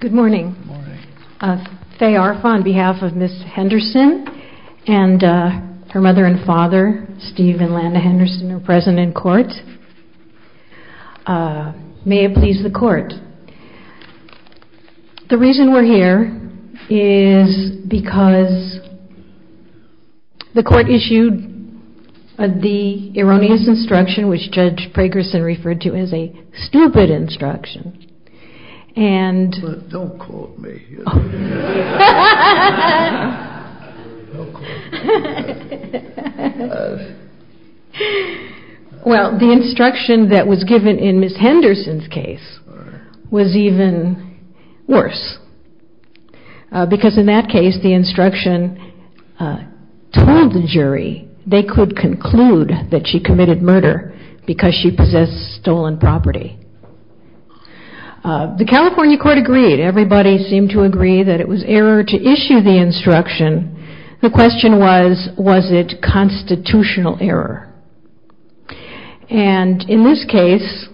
Good morning. Faye Arfa on behalf of Ms. Henderson and her mother and father, Steve and Landa Henderson are present in court. May it please the court. The reason we're here is because the court issued the erroneous instruction which Judge Pragerson referred to as a stupid instruction. Well the instruction that was given in Ms. Henderson's case was even worse because in that case the instruction told the jury they could conclude that she committed murder because she possessed stolen property. The California court agreed. Everybody seemed to agree that it was error to issue the instruction. The question was, was it constitutional error? And in this case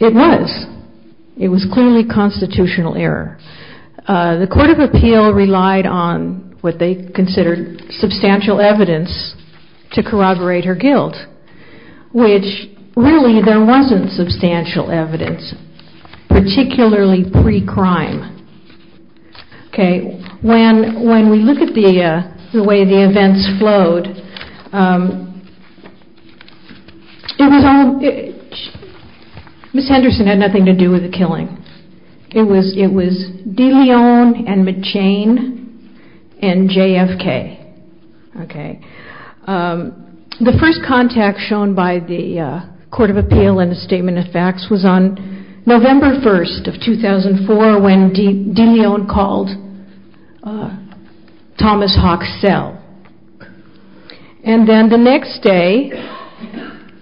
it was. It was clearly constitutional error. The court of appeal relied on what they considered substantial evidence to corroborate her guilt, which really there wasn't substantial evidence, particularly pre-crime. When we look at the way the events flowed, Ms. Henderson had nothing to do with the killing. It was DeLeon and McChane and JFK. The first contact shown by the court of appeal and the statement of facts was on November 1st of 2004 when DeLeon called Thomas Hawk's cell. And then the next day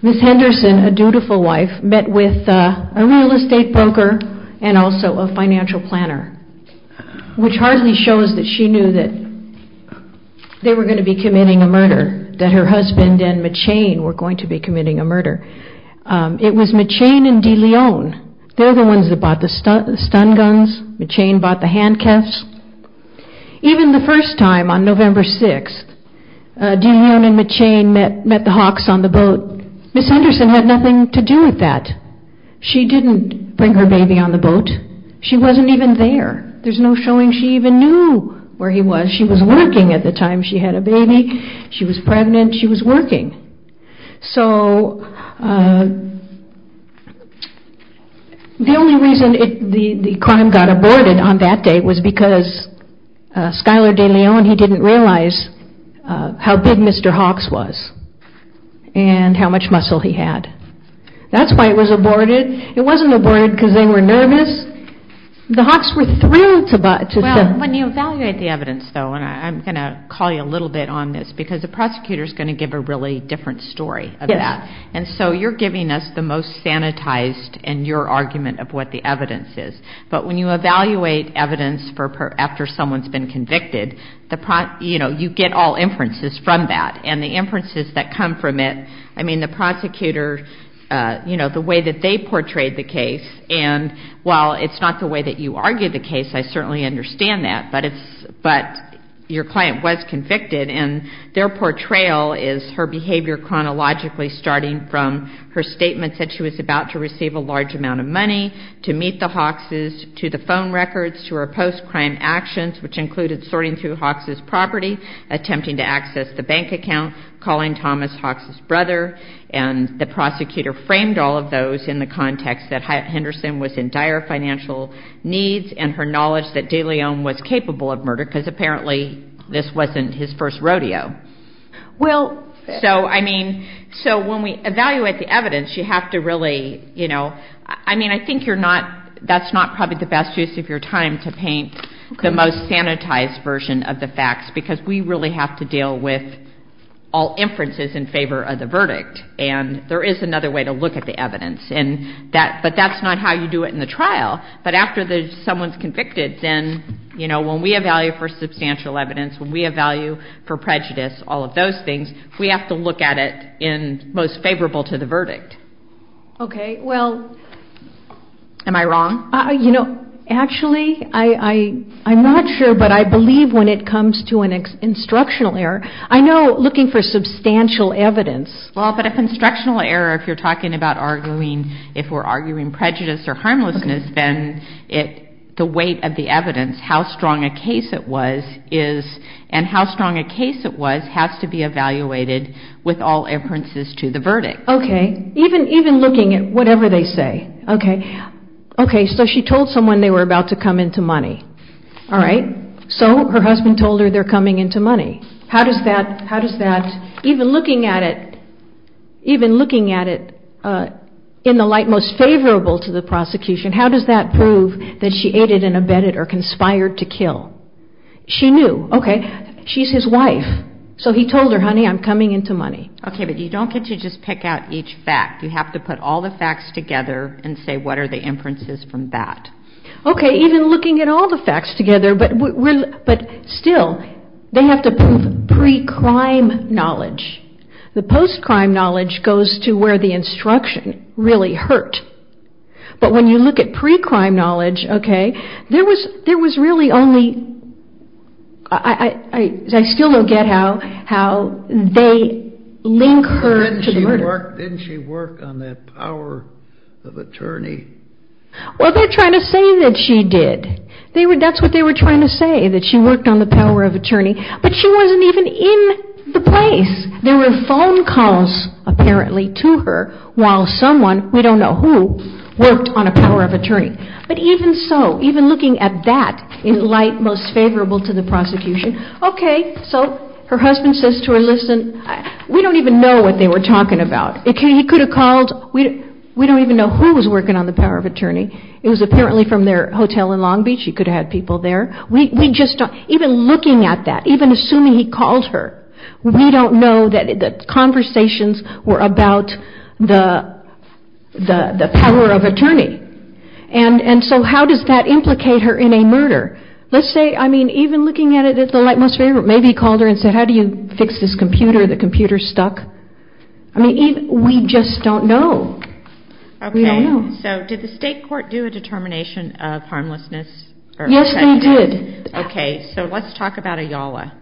Ms. Henderson, a dutiful wife, met with a real estate broker and also a financial planner, which hardly shows that she knew that they were going to be committing a murder, that her husband and McChane were going to be committing a murder. It was McChane and DeLeon. They're the ones that bought the stun guns. McChane bought the handcuffs. Even the first time on November 6th, DeLeon and McChane met the Hawks on the boat. Ms. Henderson had nothing to do with that. She didn't bring her baby on the boat. She wasn't even there. There's no showing she even knew where he was. She was working at the time she had a baby. She was pregnant. She was working. So the only reason the crime got aborted on that day was because Skylar DeLeon, he didn't realize how big Mr. Hawk's was and how much muscle he had. That's why it was aborted. It wasn't aborted because they were nervous. The Hawks were thrilled to... When you evaluate the evidence, though, and I'm going to call you a little bit on this, because the prosecutor is going to give a really different story of that. So you're giving us the most sanitized in your argument of what the evidence is. But when you evaluate evidence after someone's been convicted, you get all inferences from that. And the inferences that come from it, I mean, the prosecutor, the way that they portrayed the case, and while it's not the way that you argue the case, I certainly understand that. But your client was convicted, and their portrayal is her behavior chronologically starting from her statement that she was about to receive a large amount of money to meet the Hawks' to the phone records to her post-crime actions, which included sorting through Hawks' property, attempting to access the bank account, calling Thomas Hawks' brother, and the prosecutor framed all of those in the context that Henderson was in dire financial needs and her knowledge that de León was capable of murder, because apparently this wasn't his first rodeo. Well, so, I mean, so when we evaluate the evidence, you have to really, you know, I mean, I think you're not, that's not probably the best use of your time to paint the most sanitized version of the facts, because we really have to deal with all inferences in favor of the verdict. And there is another way to look at the evidence, and that, but that's not how you do it in the trial. But after someone's convicted, then, you know, when we evaluate for substantial evidence, when we evaluate for prejudice, all of those things, we have to look at it in most favorable to the verdict. Okay, well. Am I wrong? You know, actually, I'm not sure, but I believe when it comes to an instructional error, I know looking for substantial evidence. Well, but if instructional error, if you're talking about arguing, if we're arguing prejudice or harmlessness, then it, the weight of the evidence, how strong a case it was is, and how strong a case it was has to be evaluated with all inferences to the verdict. Okay, even, even looking at whatever they say, okay. Okay, so she told someone they were about to come into money. All right. So her husband told her they're coming into money. How does that, how does that, even looking at it, even looking at it in the light most favorable to the prosecution, how does that prove that she aided and abetted or conspired to kill? She knew. Okay. She's his wife. So he told her, honey, I'm coming into money. Okay, but you don't get to just pick out each fact. You have to put all the facts together and say, what are the inferences from that? Okay, even looking at all the facts together, but we're, but still, they have to prove pre-crime knowledge. The post-crime knowledge goes to where the instruction really hurt. But when you look at pre-crime knowledge, okay, there was, there was really only, I, I, I still don't get how, how they link her to the murder. Didn't she work, didn't she work on that power of attorney? We don't even know who was working on the power of attorney. It was apparently from their hotel in Long Beach. She could have had people there. We, we just don't, even looking at that, even assuming he called her, we don't know that the conversations were about the, the, the power of attorney. And, and so how does that implicate her in a murder? Let's say, I mean, even looking at it as the light most favorite, maybe he called her and said, how do you fix this computer? The computer's stuck. I mean, even, we just don't know. We don't know. Okay. So let's talk about Ayala.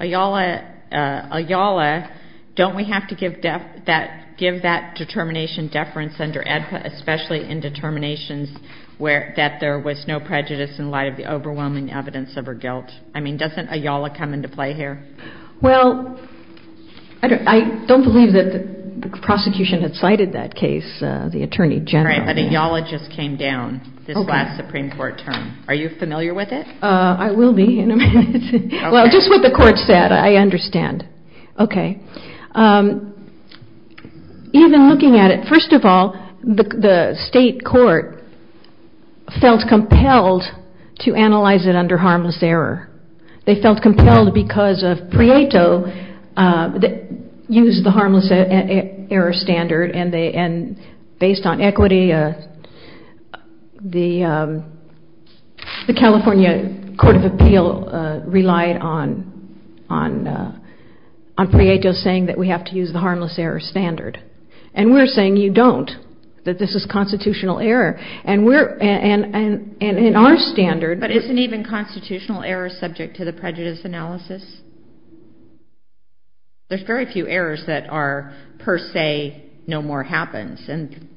Ayala, Ayala, don't we have to give that, give that determination deference under AEDPA, especially in determinations where, that there was no prejudice in light of the overwhelming evidence of her guilt? I mean, doesn't Ayala come into play here? Well, I don't, I don't believe that the prosecution had cited that case, the attorney general. Right, but Ayala just came down this last Supreme Court term. Are you familiar with it? I will be in a minute. Well, just what the court said, I understand. Okay. Even looking at it, first of all, the state court felt compelled to analyze it under harmless error. They felt compelled because of Prieto that used the harmless error standard and they, and based on equity, the, the California Court of Appeal relied on, on, on Prieto saying that we have to use the harmless error standard. And we're saying you don't, that this is constitutional error. And we're, and, and, and in our standard. But isn't even constitutional error subject to the prejudice analysis? There's very few errors that are per se no more happens. And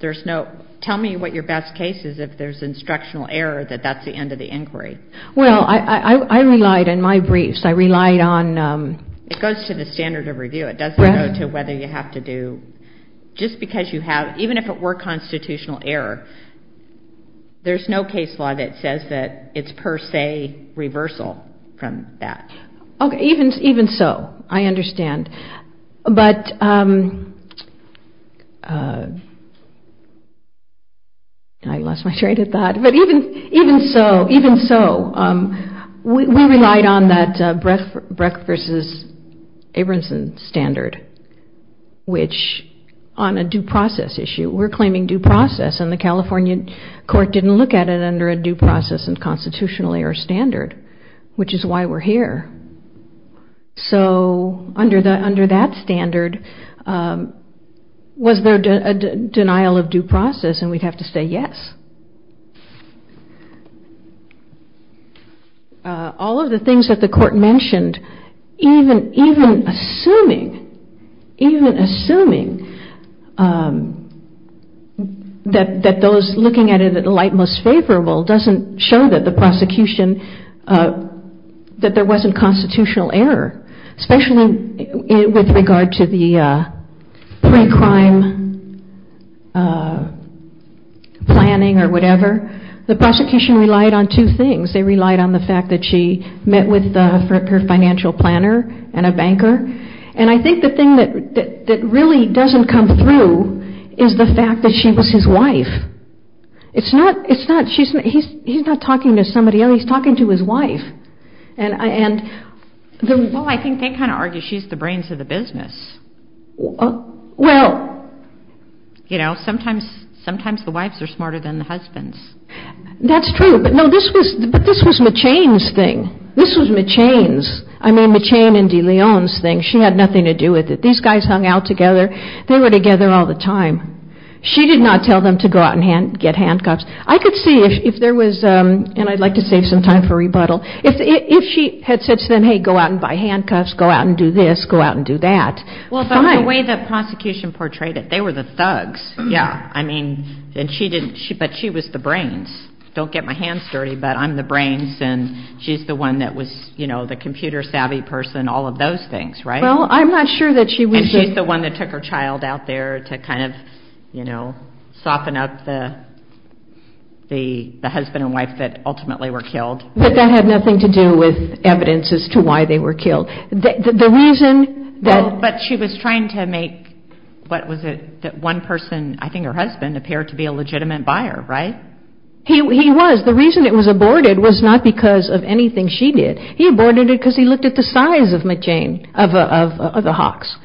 there's no, tell me what your best case is if there's instructional error that that's the end of the inquiry. Well, I, I, I relied on my briefs. I relied on. It goes to the standard of review. It doesn't go to whether you have to do, just because you have, even if it were constitutional error, there's no case law that says that it's per se reversal from that. Okay. Even, even so, I understand. But I lost my train of thought. But even, even so, even so, we relied on that Brecht versus Abramson standard, which on a due process issue, we're claiming due process and the California court didn't look at it under a due process and constitutional error standard, which is why we're here. So under the, under that standard, was there a denial of due process? And we'd have to say yes. All of the things that the court mentioned, even, even assuming, even assuming that, that those looking at it at the light most favorable doesn't show that the prosecution, that there wasn't constitutional error, especially with regard to the pre-crime planning or review. The prosecution relied on two things. They relied on the fact that she met with her financial planner and a banker. And I think the thing that really doesn't come through is the fact that she was his wife. It's not, it's not, he's not talking to somebody else, he's talking to his wife. Well, I think they kind of argue she's the brains of the business. Well, you know, sometimes, sometimes the wives are smarter than the husbands. That's true, but no, this was, but this was McChain's thing. This was McChain's, I mean McChain and DeLeon's thing. She had nothing to do with it. These guys hung out together. They were together all the time. She did not tell them to go out and hand, get handcuffs. I could see if, if there was, and I'd like to save some time for rebuttal, if, if she had said to them, hey, go out and buy handcuffs, go out and do this, go out and do that. Well, but the way the prosecution portrayed it, they were the thugs. Yeah. I mean, and she didn't, she, but she was the brains. Don't get my hands dirty, but I'm the brains and she's the one that was, you know, the computer savvy person, all of those things, right? Well, I'm not sure that she was. And she's the one that took her child out there to kind of, you know, soften up the, the, the husband and wife that ultimately were killed. But that had nothing to do with evidence as to why they were killed. The reason that. But she was trying to make, what was it that one person, I think her husband appeared to be a legitimate buyer, right? He was, the reason it was aborted was not because of anything she did. He aborted it because he looked at the size of McJane, of the Hawks.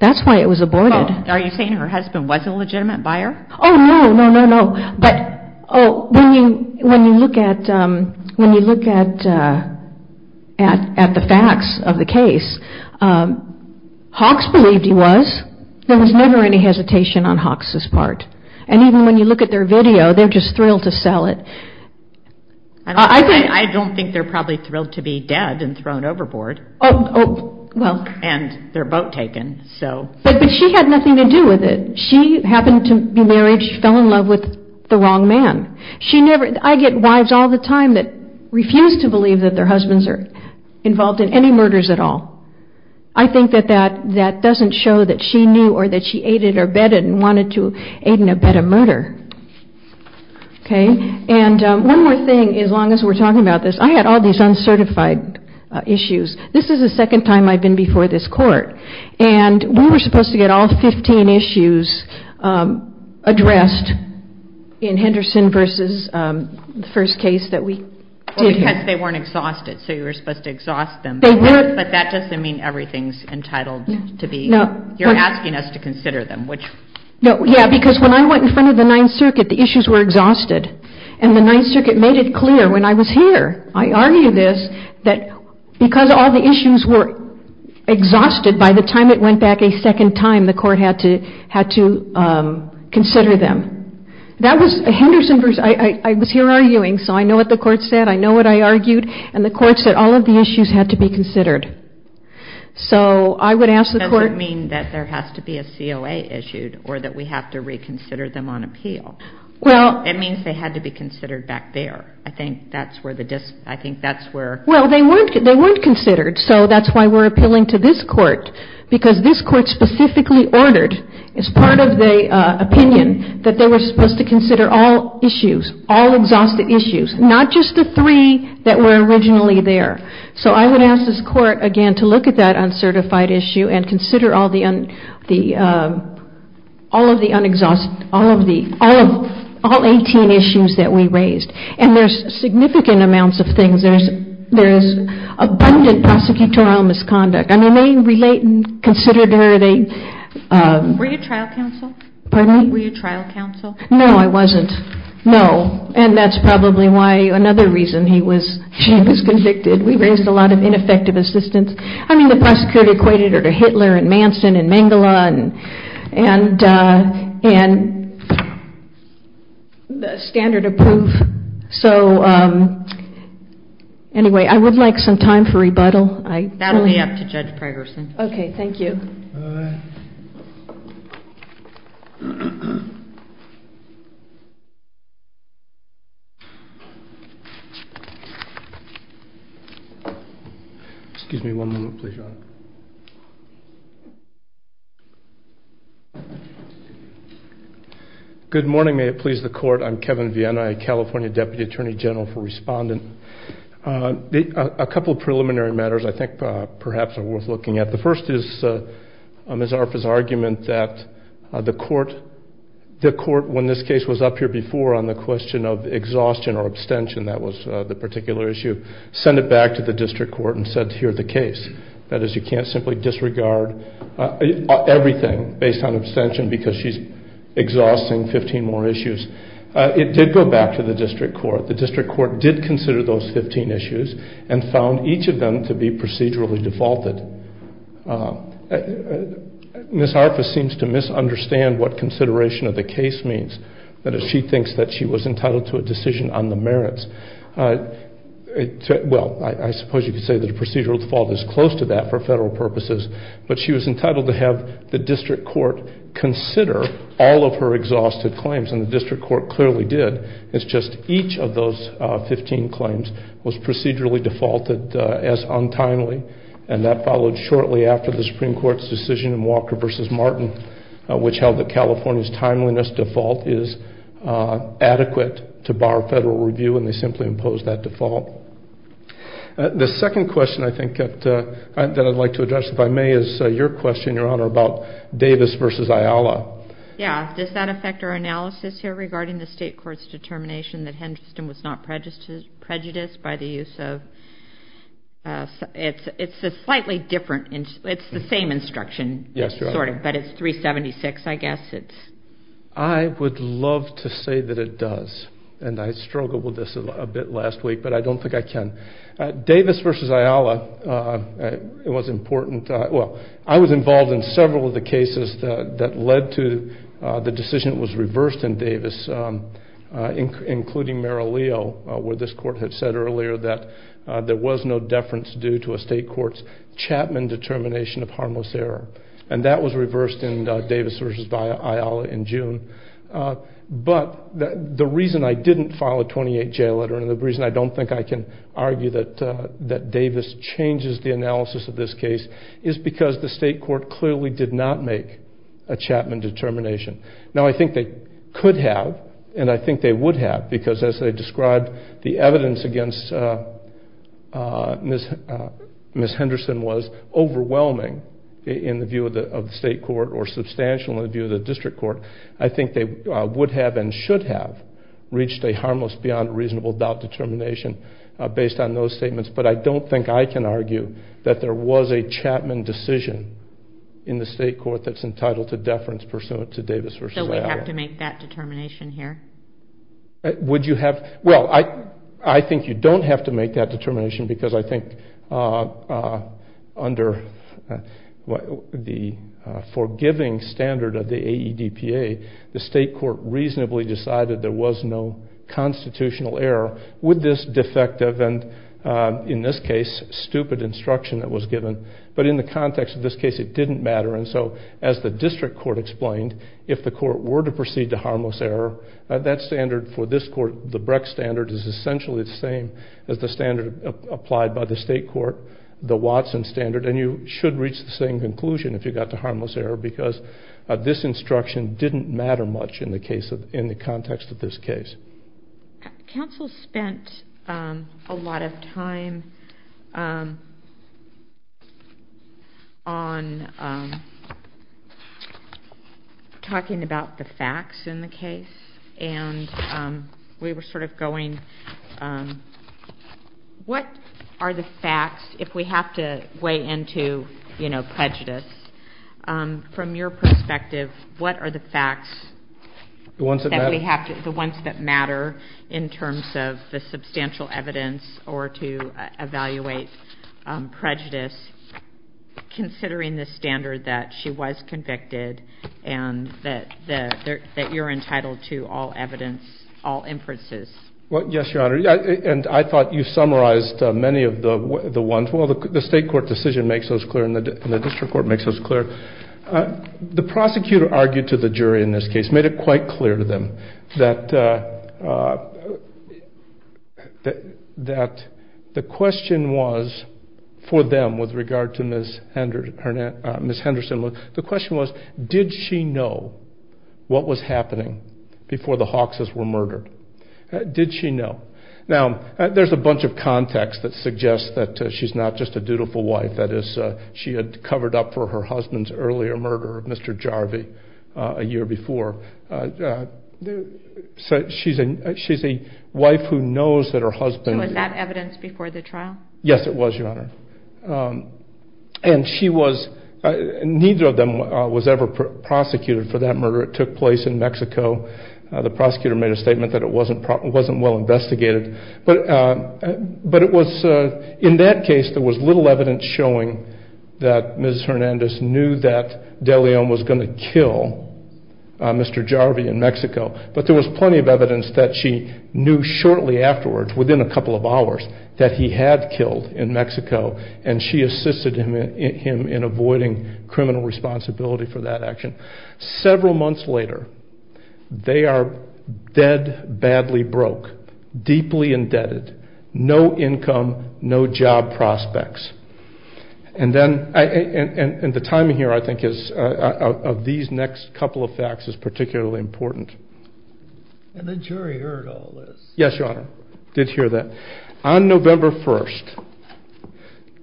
That's why it was aborted. Are you saying her husband was a legitimate buyer? Oh, no, no, no, no. But, oh, when you, when you look at, when you look at, at, at the facts of the case, Hawks believed he was. There was never any hesitation on Hawks' part. And even when you look at their video, they're just thrilled to sell it. I don't think they're probably thrilled to be dead and thrown overboard. Oh, well. And their boat taken. So. But she had nothing to do with it. She happened to be married. She fell in love with the wrong man. She never. I get wives all the time that refuse to believe that their husbands are involved in any murders at all. I think that that that doesn't show that she knew or that she aided or bedded and wanted to aid and abet a murder. OK. And one more thing, as long as we're talking about this, I had all these uncertified issues. This is the second time I've been before this court. And we were supposed to get all 15 issues addressed in Henderson versus the first case that we. Because they weren't exhausted. So you were supposed to exhaust them. But that doesn't mean everything's entitled to be. No, you're asking us to consider them, which. Yeah, because when I went in front of the Ninth Circuit, the issues were exhausted and the Ninth Circuit made it clear when I was here. I argue this, that because all the issues were exhausted by the time it went back a second time, the court had to had to consider them. That was a Henderson versus I was here arguing. So I know what the court said. I know what I argued. And the court said all of the issues had to be considered. So I would ask the court mean that there has to be a COA issued or that we have to reconsider them on appeal. Well, it means they had to be considered back there. I think that's where the I think that's where. Well, they weren't they weren't considered. So that's why we're appealing to this court. Because this court specifically ordered as part of the opinion that they were supposed to consider all issues, all exhausted issues, not just the three that were originally there. So I would ask this court again to look at that uncertified issue and consider all the the all of the unexhausted, all of the all of all 18 issues that we raised. And there's significant amounts of things. There's there's abundant prosecutorial misconduct. I mean, they relate and consider. Were you trial counsel? Pardon me? Were you trial counsel? No, I wasn't. No. And that's probably why another reason he was he was convicted. We raised a lot of ineffective assistance. I mean, the prosecutor equated her to Hitler and Manson and Mengele and and and the standard of proof. So anyway, I would like some time for rebuttal. I that'll be up to Judge Pregerson. OK, thank you. Excuse me one moment, please. Good morning. May it please the court. I'm Kevin Vienna, a California deputy attorney general for respondent. A couple of preliminary matters I think perhaps are worth looking at. The first is Ms. Arfa's argument that the court the court, when this case was up here before on the question of exhaustion or abstention, that was the particular issue, send it back to the district court and said, here's the case. That is, you can't simply disregard everything based on abstention because she's exhausting 15 more issues. It did go back to the district court. The district court did consider those 15 issues and found each of them to be procedurally defaulted. Ms. Arfa seems to misunderstand what consideration of the case means. That is, she thinks that she was entitled to a decision on the merits. Well, I suppose you could say that a procedural default is close to that for federal purposes. But she was entitled to have the district court consider all of her exhausted claims. And the district court clearly did. It's just each of those 15 claims was procedurally defaulted as untimely. And that followed shortly after the Supreme Court's decision in Walker v. Martin, which held that California's timeliness default is adequate to bar federal review. And they simply imposed that default. The second question I think that I'd like to address, if I may, is your question, Your Honor, about Davis v. Ayala. Yeah. Does that affect our analysis here regarding the state court's determination that Henderson was not prejudiced by the use of ‑‑ it's a slightly different ‑‑ it's the same instruction. Yes, Your Honor. But it's 376, I guess. I would love to say that it does. And I struggled with this a bit last week, but I don't think I can. Davis v. Ayala was important. Well, I was involved in several of the cases that led to the decision that was reversed in Davis, including Merrill Leo, where this court had said earlier that there was no deference due to a state court's Chapman determination of harmless error. And that was reversed in Davis v. Ayala in June. But the reason I didn't file a 28J letter, and the reason I don't think I can argue that Davis changes the analysis of this case, is because the state court clearly did not make a Chapman determination. Now, I think they could have, and I think they would have, because as they described, the evidence against Ms. Henderson was overwhelming in the view of the state court or substantial in the view of the district court. I think they would have and should have reached a harmless beyond reasonable doubt determination based on those statements. But I don't think I can argue that there was a Chapman decision in the state court that's entitled to deference pursuant to Davis v. Ayala. So we have to make that determination here? Would you have? Well, I think you don't have to make that determination because I think under the forgiving standard of the AEDPA, the state court reasonably decided there was no constitutional error with this defective and, in this case, stupid instruction that was given. But in the context of this case, it didn't matter. And so as the district court explained, if the court were to proceed to harmless error, that standard for this court, the Breck standard is essentially the same as the standard applied by the state court, the Watson standard, and you should reach the same conclusion if you got to harmless error because this instruction didn't matter much in the context of this case. Counsel spent a lot of time on talking about the facts in the case. And we were sort of going, what are the facts, if we have to weigh into, you know, prejudice, from your perspective, what are the facts that we have, the ones that matter in terms of the substantial evidence or to evaluate prejudice, considering the standard that she was convicted and that you're entitled to all evidence, all inferences? Well, yes, Your Honor. And I thought you summarized many of the ones. Well, the state court decision makes those clear and the district court makes those clear. The prosecutor argued to the jury in this case, made it quite clear to them that the question was for them with regard to Ms. Henderson, the question was, did she know what was happening before the Hawkses were murdered? Did she know? Now, there's a bunch of context that suggests that she's not just a dutiful wife, that is she had covered up for her husband's earlier murder of Mr. Jarvie a year before. So she's a wife who knows that her husband. So was that evidence before the trial? Yes, it was, Your Honor. And she was, neither of them was ever prosecuted for that murder. It took place in Mexico. The prosecutor made a statement that it wasn't well investigated. But it was in that case there was little evidence showing that Ms. Hernandez knew that De Leon was going to kill Mr. Jarvie in Mexico. But there was plenty of evidence that she knew shortly afterwards, within a couple of hours, that he had killed in Mexico and she assisted him in avoiding criminal responsibility for that action. Several months later, they are dead, badly broke, deeply indebted, no income, no job prospects. And the timing here, I think, of these next couple of facts is particularly important. And the jury heard all this. Yes, Your Honor, did hear that. On November 1st,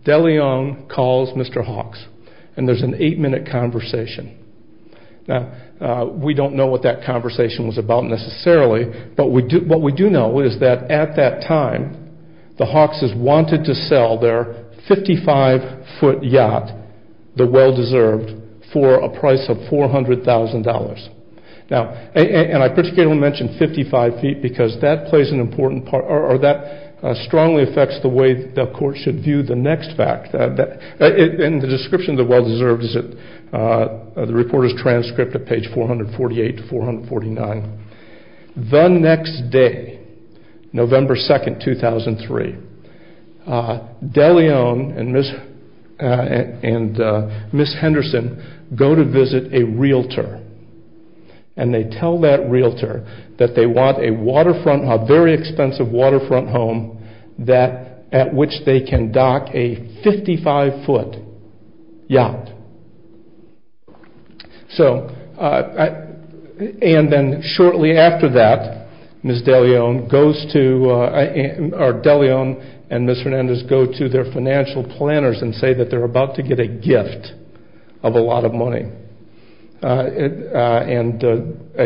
De Leon calls Mr. Hawks. And there's an eight-minute conversation. Now, we don't know what that conversation was about necessarily. But what we do know is that at that time, the Hawks has wanted to sell their 55-foot yacht, the well-deserved, for a price of $400,000. Now, and I particularly want to mention 55 feet because that plays an important part, or that strongly affects the way the court should view the next fact. And the description of the well-deserved is in the reporter's transcript at page 448 to 449. The next day, November 2nd, 2003, De Leon and Ms. Henderson go to visit a realtor. And they tell that realtor that they want a very expensive waterfront home at which they can dock a 55-foot yacht. And then shortly after that, De Leon and Ms. Hernandez go to their financial planners and say that they're about to get a gift of a lot of money. And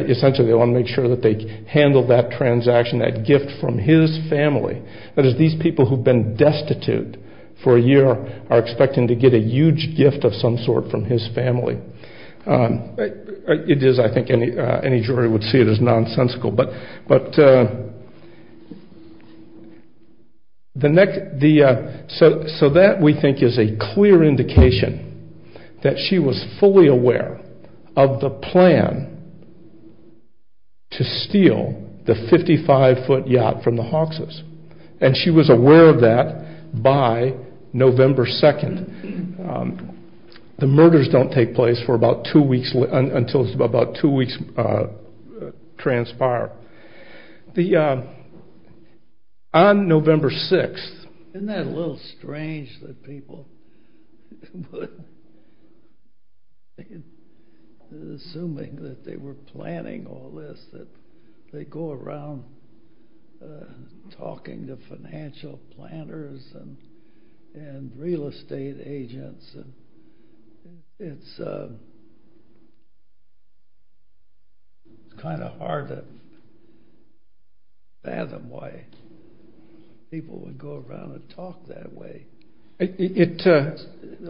essentially, they want to make sure that they handle that transaction, that gift from his family. That is, these people who've been destitute for a year are expecting to get a huge gift of some sort from his family. It is, I think, any jury would see it as nonsensical. So that, we think, is a clear indication that she was fully aware of the plan to steal the 55-foot yacht from the Hawks. And she was aware of that by November 2nd. The murders don't take place until about two weeks transpire. On November 6th... Talking to financial planners and real estate agents, it's kind of hard to fathom why people would go around and talk that way. The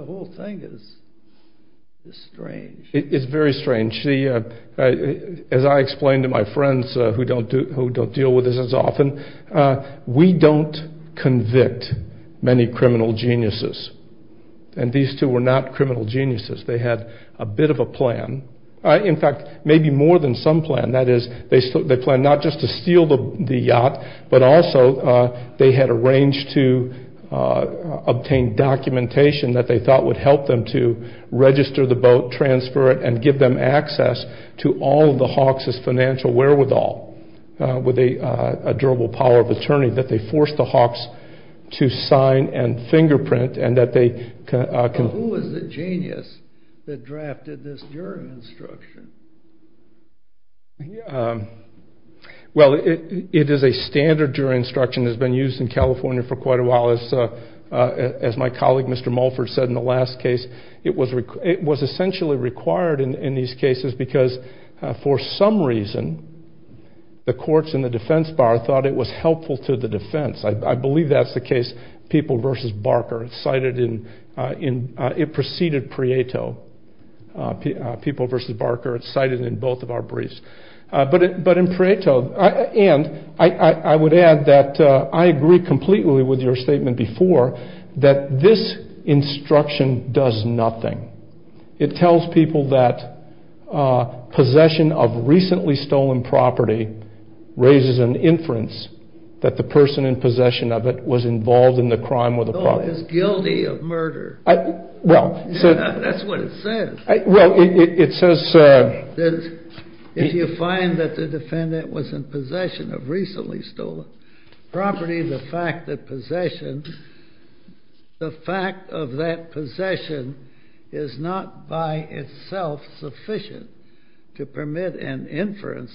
whole thing is strange. It's very strange. As I explain to my friends who don't deal with this as often, we don't convict many criminal geniuses. And these two were not criminal geniuses. They had a bit of a plan. In fact, maybe more than some plan. That is, they planned not just to steal the yacht, but also they had arranged to obtain documentation that they thought would help them to register the boat, transfer it, and give them access to all of the Hawks' financial wherewithal with a durable power of attorney. That they forced the Hawks to sign and fingerprint and that they... Who was the genius that drafted this jury instruction? Well, it is a standard jury instruction that has been used in California for quite a while. As my colleague, Mr. Mulford, said in the last case, it was essentially required in these cases because, for some reason, the courts and the defense bar thought it was helpful to the defense. I believe that's the case. People v. Barker. It's cited in... It preceded Prieto. People v. Barker. It's cited in both of our briefs. But in Prieto... And I would add that I agree completely with your statement before that this instruction does nothing. It tells people that possession of recently stolen property raises an inference that the person in possession of it was involved in the crime or the property. No, it's guilty of murder. Well... That's what it says. Well, it says... If you find that the defendant was in possession of recently stolen property, the fact that possession... The fact of that possession is not by itself sufficient to permit an inference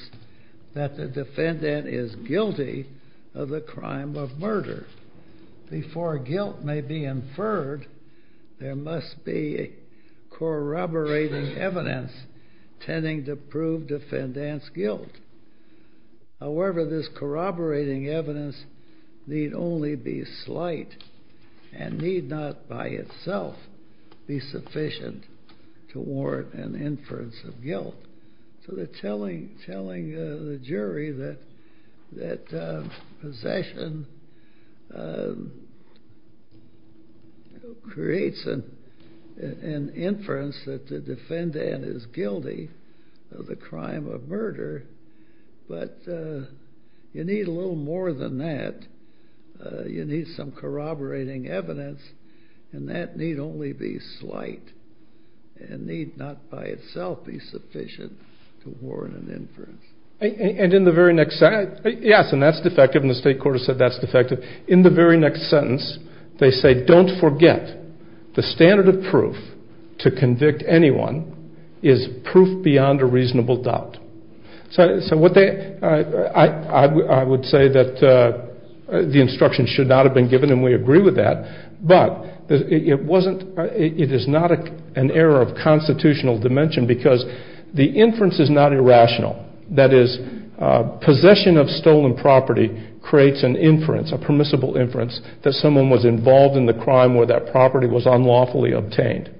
that the defendant is guilty of the crime of murder. Before guilt may be inferred, there must be corroborating evidence tending to prove defendant's guilt. However, this corroborating evidence need only be slight and need not by itself be sufficient to warrant an inference of guilt. So they're telling the jury that possession creates an inference that the defendant is guilty of the crime of murder, but you need a little more than that. You need some corroborating evidence and that need only be slight and need not by itself be sufficient to warrant an inference. And in the very next sentence... Yes, and that's defective and the state court has said that's defective. In the very next sentence, they say, don't forget the standard of proof to convict anyone is proof beyond a reasonable doubt. So what they... I would say that the instruction should not have been given and we agree with that, but it wasn't... It is not an error of constitutional dimension because the inference is not irrational. That is, possession of stolen property creates an inference, a permissible inference, that someone was involved in the crime where that property was unlawfully obtained.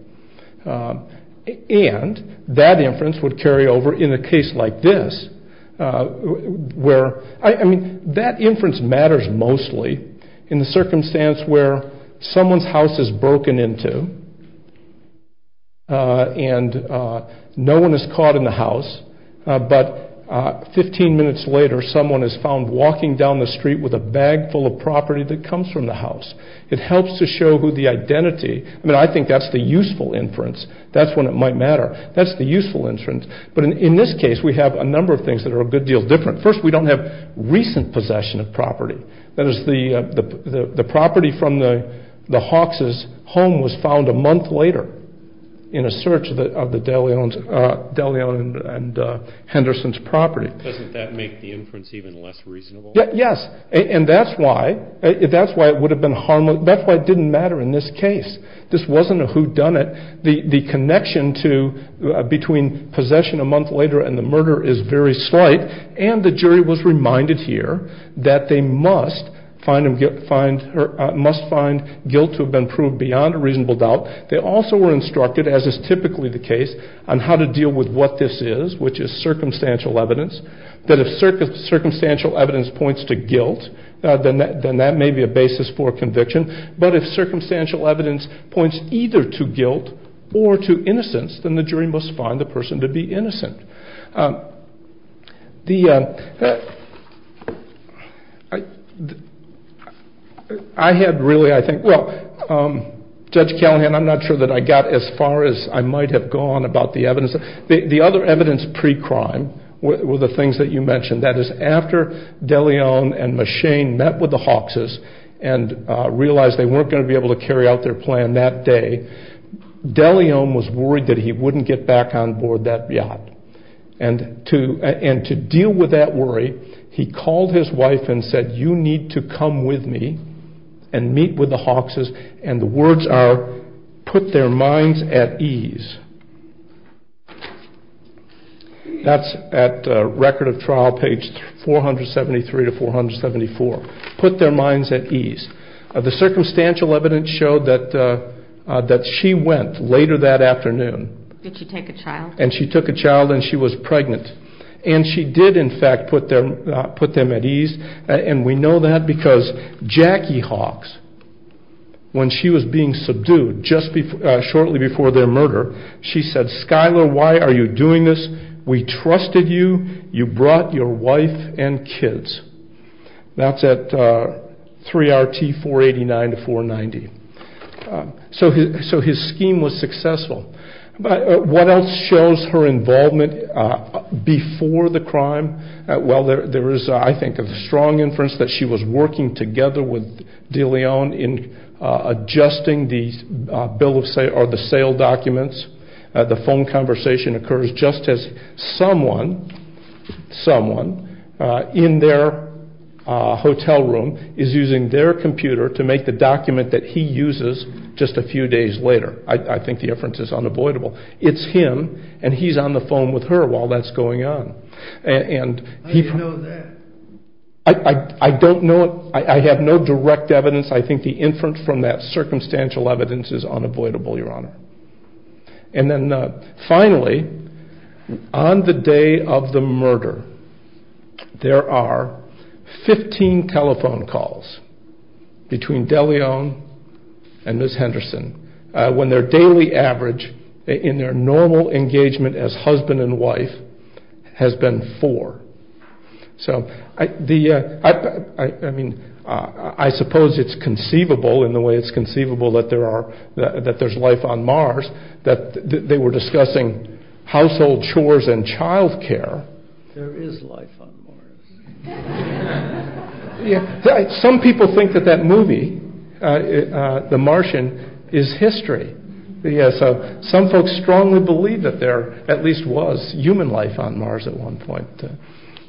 And that inference would carry over in a case like this, where... I mean, that inference matters mostly in the circumstance where someone's house is broken into and no one is caught in the house, but 15 minutes later someone is found walking down the street with a bag full of property that comes from the house. It helps to show who the identity... I mean, I think that's the useful inference. That's when it might matter. That's the useful inference. But in this case, we have a number of things that are a good deal different. First, we don't have recent possession of property. That is, the property from the Hawks' home was found a month later in a search of the De Leon and Henderson's property. Doesn't that make the inference even less reasonable? Yes. And that's why it would have been harmless. That's why it didn't matter in this case. This wasn't a whodunit. The connection between possession a month later and the murder is very slight, and the jury was reminded here that they must find guilt to have been proved beyond a reasonable doubt. They also were instructed, as is typically the case, on how to deal with what this is, which is circumstantial evidence, that if circumstantial evidence points to guilt, then that may be a basis for conviction. But if circumstantial evidence points either to guilt or to innocence, then the jury must find the person to be innocent. I had really, I think... Well, Judge Callahan, I'm not sure that I got as far as I might have gone about the evidence. The other evidence pre-crime were the things that you mentioned. That is, after De Leon and Machein met with the Hawkses and realized they weren't going to be able to carry out their plan that day, De Leon was worried that he wouldn't get back on board that yacht. And to deal with that worry, he called his wife and said, you need to come with me and meet with the Hawkses, and the words are, put their minds at ease. That's at Record of Trial, page 473 to 474. Put their minds at ease. The circumstantial evidence showed that she went later that afternoon. Did she take a child? And she took a child, and she was pregnant. And she did, in fact, put them at ease. And we know that because Jackie Hawks, when she was being subdued just shortly before their murder, she said, Skylar, why are you doing this? We trusted you. You brought your wife and kids. That's at 3RT 489 to 490. So his scheme was successful. What else shows her involvement before the crime? Well, there is, I think, a strong inference that she was working together with De Leon in adjusting the sale documents. The phone conversation occurs just as someone in their hotel room is using their computer to make the document that he uses just a few days later. I think the inference is unavoidable. It's him, and he's on the phone with her while that's going on. How do you know that? I don't know. I have no direct evidence. I think the inference from that circumstantial evidence is unavoidable, Your Honor. And then finally, on the day of the murder, there are 15 telephone calls between De Leon and Ms. Henderson when their daily average in their normal engagement as husband and wife has been four. So I mean, I suppose it's conceivable in the way it's conceivable that there's life on Mars, that they were discussing household chores and child care. There is life on Mars. Some people think that that movie, The Martian, is history. So some folks strongly believe that there at least was human life on Mars at one point.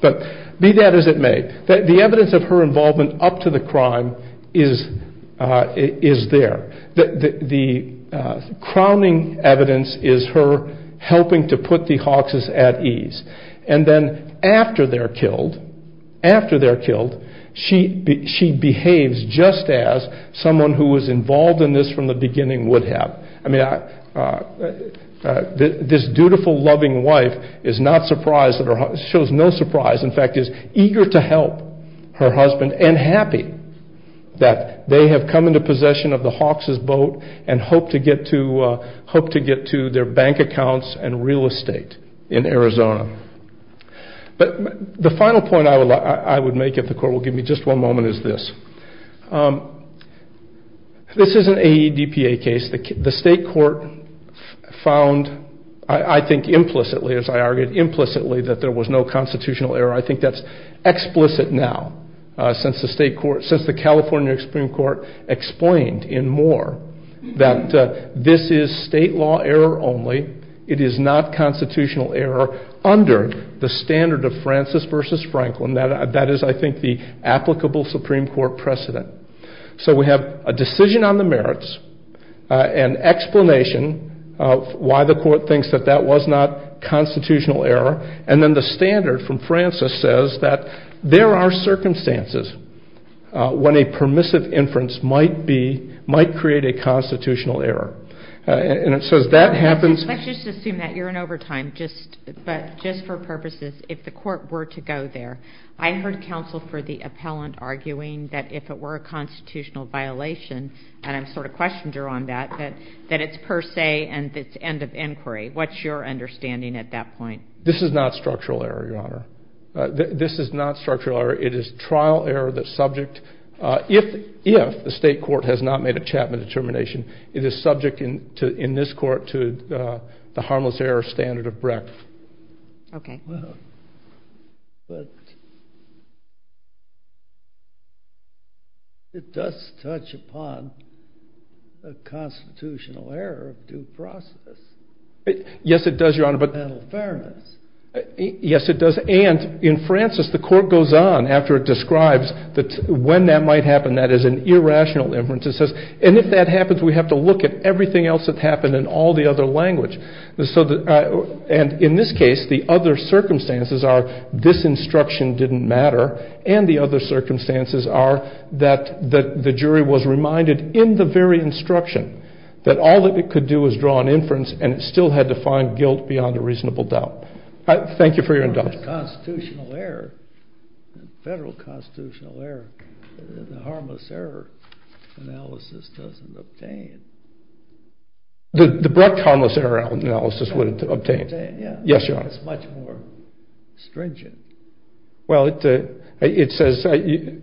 But be that as it may, the evidence of her involvement up to the crime is there. The crowning evidence is her helping to put the Hawks at ease. And then after they're killed, she behaves just as someone who was involved in this from the beginning would have. I mean, this dutiful, loving wife is not surprised. She shows no surprise. In fact, is eager to help her husband and happy that they have come into possession of the Hawks' boat and hope to get to their bank accounts and real estate in Arizona. But the final point I would make, if the court will give me just one moment, is this. This is an AEDPA case. The state court found, I think implicitly, as I argued implicitly, that there was no constitutional error. I think that's explicit now since the California Supreme Court explained in Moore that this is state law error only. It is not constitutional error under the standard of Francis versus Franklin. That is, I think, the applicable Supreme Court precedent. So we have a decision on the merits, an explanation of why the court thinks that that was not constitutional error, and then the standard from Francis says that there are circumstances when a permissive inference might create a constitutional error. And it says that happens. Let's just assume that you're in overtime, but just for purposes, if the court were to go there, I heard counsel for the appellant arguing that if it were a constitutional violation, and I'm sort of questioner on that, that it's per se and it's end of inquiry. What's your understanding at that point? This is not structural error, Your Honor. This is not structural error. It is trial error that's subject, if the state court has not made a Chapman determination, it is subject in this court to the harmless error standard of Brecht. Okay. But it does touch upon the constitutional error of due process. Yes, it does, Your Honor, but Yes, it does. And in Francis, the court goes on after it describes that when that might happen, that is an irrational inference. It says, and if that happens, we have to look at everything else that's happened in all the other language. And in this case, the other circumstances are this instruction didn't matter, and the other circumstances are that the jury was reminded in the very instruction that all that it could do is draw an inference and it still had to find guilt beyond a reasonable doubt. Thank you for your indulgence. Constitutional error, federal constitutional error, the harmless error analysis doesn't obtain. The Brecht harmless error analysis would obtain. Yes, Your Honor. It's much more stringent. Well, it says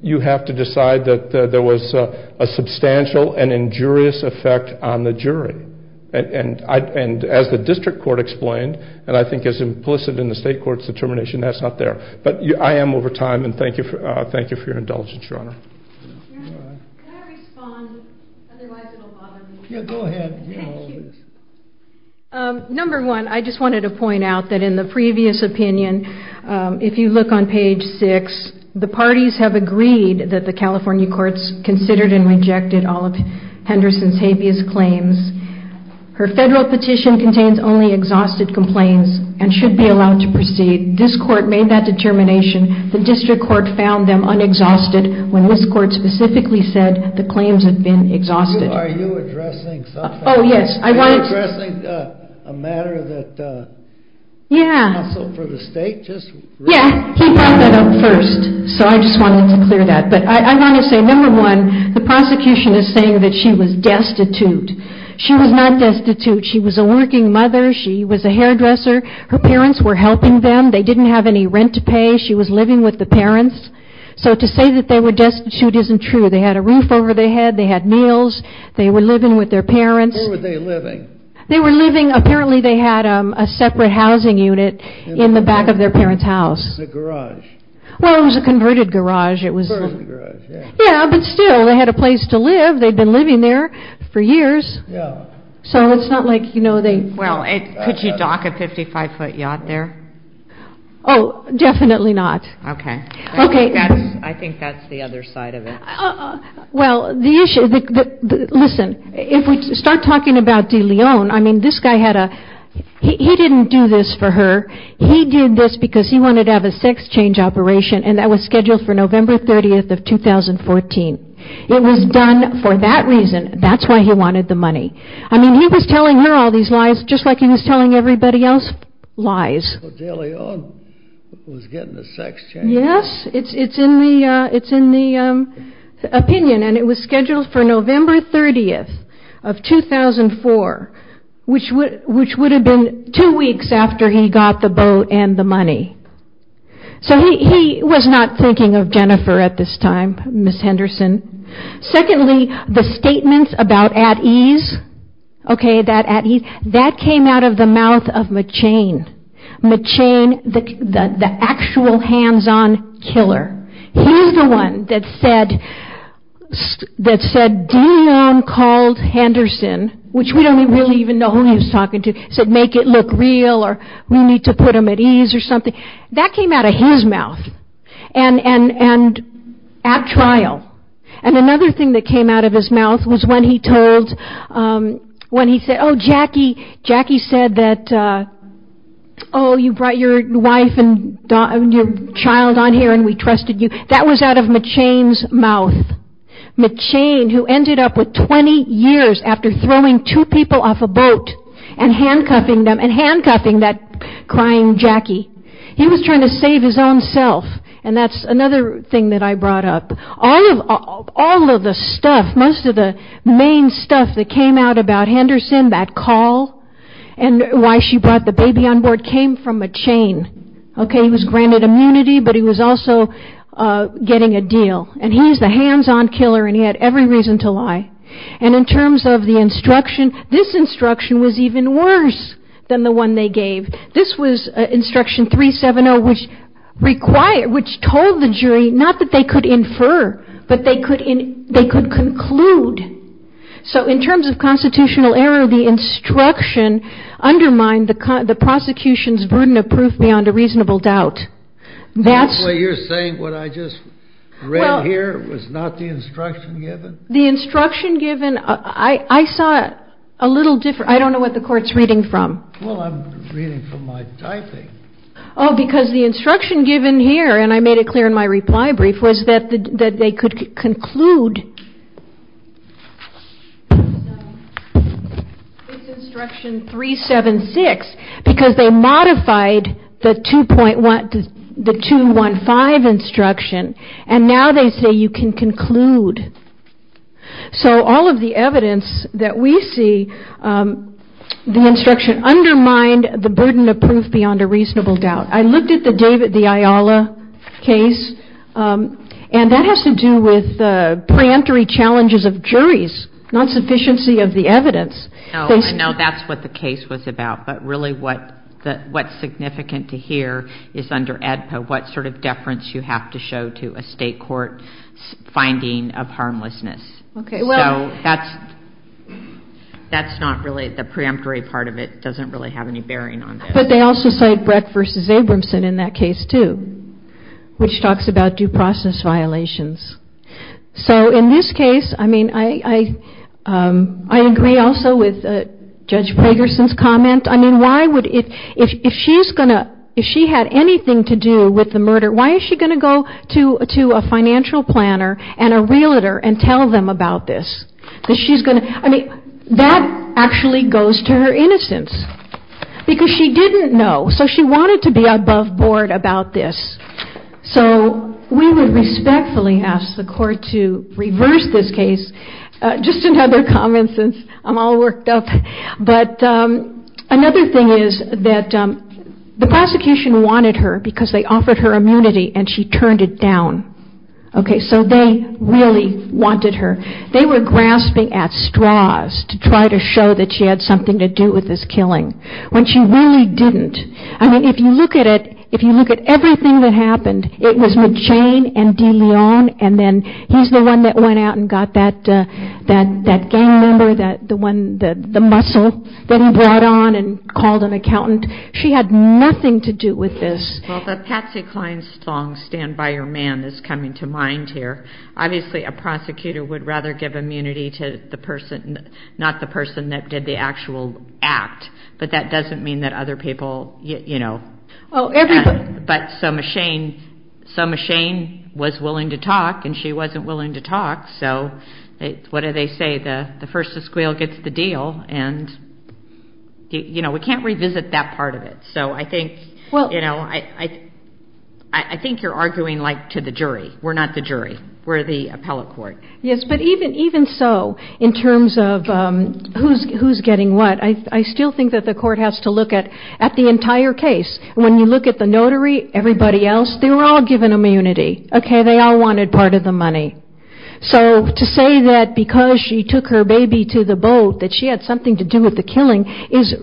you have to decide that there was a substantial and injurious effect on the jury. And as the district court explained, and I think is implicit in the state court's determination, that's not there. But I am over time, and thank you for your indulgence, Your Honor. Can I respond? Otherwise, it will bother me. Yeah, go ahead. Thank you. Number one, I just wanted to point out that in the previous opinion, if you look on page six, the parties have agreed that the California courts considered and rejected all of Henderson's habeas claims. Her federal petition contains only exhausted complaints and should be allowed to proceed. This court made that determination. The district court found them unexhausted when this court specifically said the claims had been exhausted. Are you addressing something? Oh, yes. Are you addressing a matter that counseled for the state? Yeah, he brought that up first, so I just wanted to clear that. But I want to say, number one, the prosecution is saying that she was destitute. She was not destitute. She was a working mother. She was a hairdresser. Her parents were helping them. They didn't have any rent to pay. She was living with the parents. So to say that they were destitute isn't true. They had a roof over their head. They had meals. They were living with their parents. Where were they living? They were living, apparently, they had a separate housing unit in the back of their parents' house. It was a garage. Well, it was a converted garage. It was a converted garage, yeah. Yeah, but still, they had a place to live. They'd been living there for years. Yeah. So it's not like, you know, they... Well, could you dock a 55-foot yacht there? Oh, definitely not. Okay. Okay. I think that's the other side of it. Well, the issue... Listen, if we start talking about DeLeon, I mean, this guy had a... He didn't do this for her. He did this because he wanted to have a sex change operation, and that was scheduled for November 30th of 2014. It was done for that reason. That's why he wanted the money. I mean, he was telling her all these lies, just like he was telling everybody else lies. DeLeon was getting the sex change. Yes. It's in the opinion, and it was scheduled for November 30th of 2004, which would have been two weeks after he got the boat and the money. So he was not thinking of Jennifer at this time, Ms. Henderson. Secondly, the statements about at ease, okay, that at ease, that came out of the mouth of McChain. McChain, the actual hands-on killer. He's the one that said DeLeon called Henderson, which we don't really even know who he was talking to, said make it look real or we need to put him at ease or something. That came out of his mouth and at trial. And another thing that came out of his mouth was when he told... when he said, oh, Jackie, Jackie said that, oh, you brought your wife and your child on here and we trusted you. That was out of McChain's mouth. McChain, who ended up with 20 years after throwing two people off a boat and handcuffing them and handcuffing that crying Jackie. He was trying to save his own self, and that's another thing that I brought up. All of the stuff, most of the main stuff that came out about Henderson, that call and why she brought the baby on board came from McChain. Okay, he was granted immunity, but he was also getting a deal. And he's the hands-on killer and he had every reason to lie. And in terms of the instruction, this instruction was even worse than the one they gave. This was instruction 370, which required... not that they could infer, but they could conclude. So in terms of constitutional error, the instruction undermined the prosecution's burden of proof beyond a reasonable doubt. That's... You're saying what I just read here was not the instruction given? The instruction given... I saw it a little different. I don't know what the Court's reading from. Well, I'm reading from my typing. Oh, because the instruction given here, and I made it clear in my reply brief, was that they could conclude. It's instruction 376, because they modified the 215 instruction, and now they say you can conclude. So all of the evidence that we see, the instruction undermined the burden of proof beyond a reasonable doubt. I looked at the David D. Ayala case, and that has to do with the preemptory challenges of juries, not sufficiency of the evidence. No, I know that's what the case was about, but really what's significant to hear is under AEDPA, what sort of deference you have to show to a state court finding of harmlessness. Okay, well... So that's not really... But they also cite Brett v. Abramson in that case, too, which talks about due process violations. So in this case, I mean, I agree also with Judge Pragerson's comment. I mean, if she had anything to do with the murder, why is she going to go to a financial planner and a realtor and tell them about this? I mean, that actually goes to her innocence, because she didn't know. So she wanted to be above board about this. So we would respectfully ask the court to reverse this case. Just another comment, since I'm all worked up. But another thing is that the prosecution wanted her because they offered her immunity, and she turned it down. Okay, so they really wanted her. They were grasping at straws to try to show that she had something to do with this killing, when she really didn't. I mean, if you look at it, if you look at everything that happened, it was with Jane and DeLeon, and then he's the one that went out and got that gang member, the muscle that he brought on and called an accountant. She had nothing to do with this. Well, the Patsy Cline song, Stand By Your Man, is coming to mind here. Obviously, a prosecutor would rather give immunity to the person, not the person that did the actual act. But that doesn't mean that other people, you know. Oh, everybody. But so Machaine was willing to talk, and she wasn't willing to talk. So what do they say? The first to squeal gets the deal. And, you know, we can't revisit that part of it. So I think, you know, I think you're arguing, like, to the jury. We're not the jury. We're the appellate court. Yes, but even so, in terms of who's getting what, I still think that the court has to look at the entire case. When you look at the notary, everybody else, they were all given immunity. Okay, they all wanted part of the money. So to say that because she took her baby to the boat, that she had something to do with the killing is,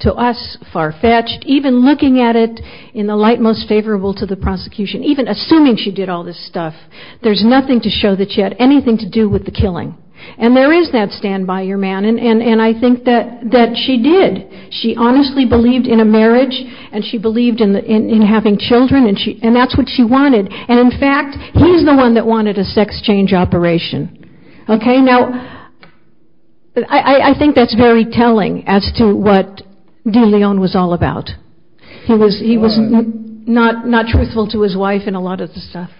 to us, far-fetched. Even looking at it in the light most favorable to the prosecution, even assuming she did all this stuff, there's nothing to show that she had anything to do with the killing. And there is that standby, your man, and I think that she did. She honestly believed in a marriage, and she believed in having children, and that's what she wanted. And, in fact, he's the one that wanted a sex change operation. Okay, now, I think that's very telling as to what De Leon was all about. He was not truthful to his wife in a lot of the stuff.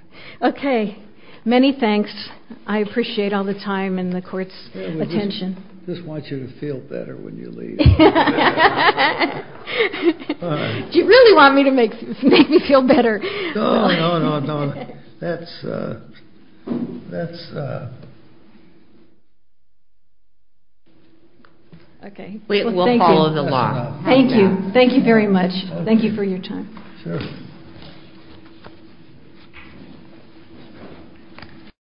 Okay, many thanks. I appreciate all the time and the court's attention. I just want you to feel better when you leave. Do you really want me to make me feel better? No, no, no, no. That's a... We'll follow the law. Thank you. Thank you very much. Thank you for your time. Sure.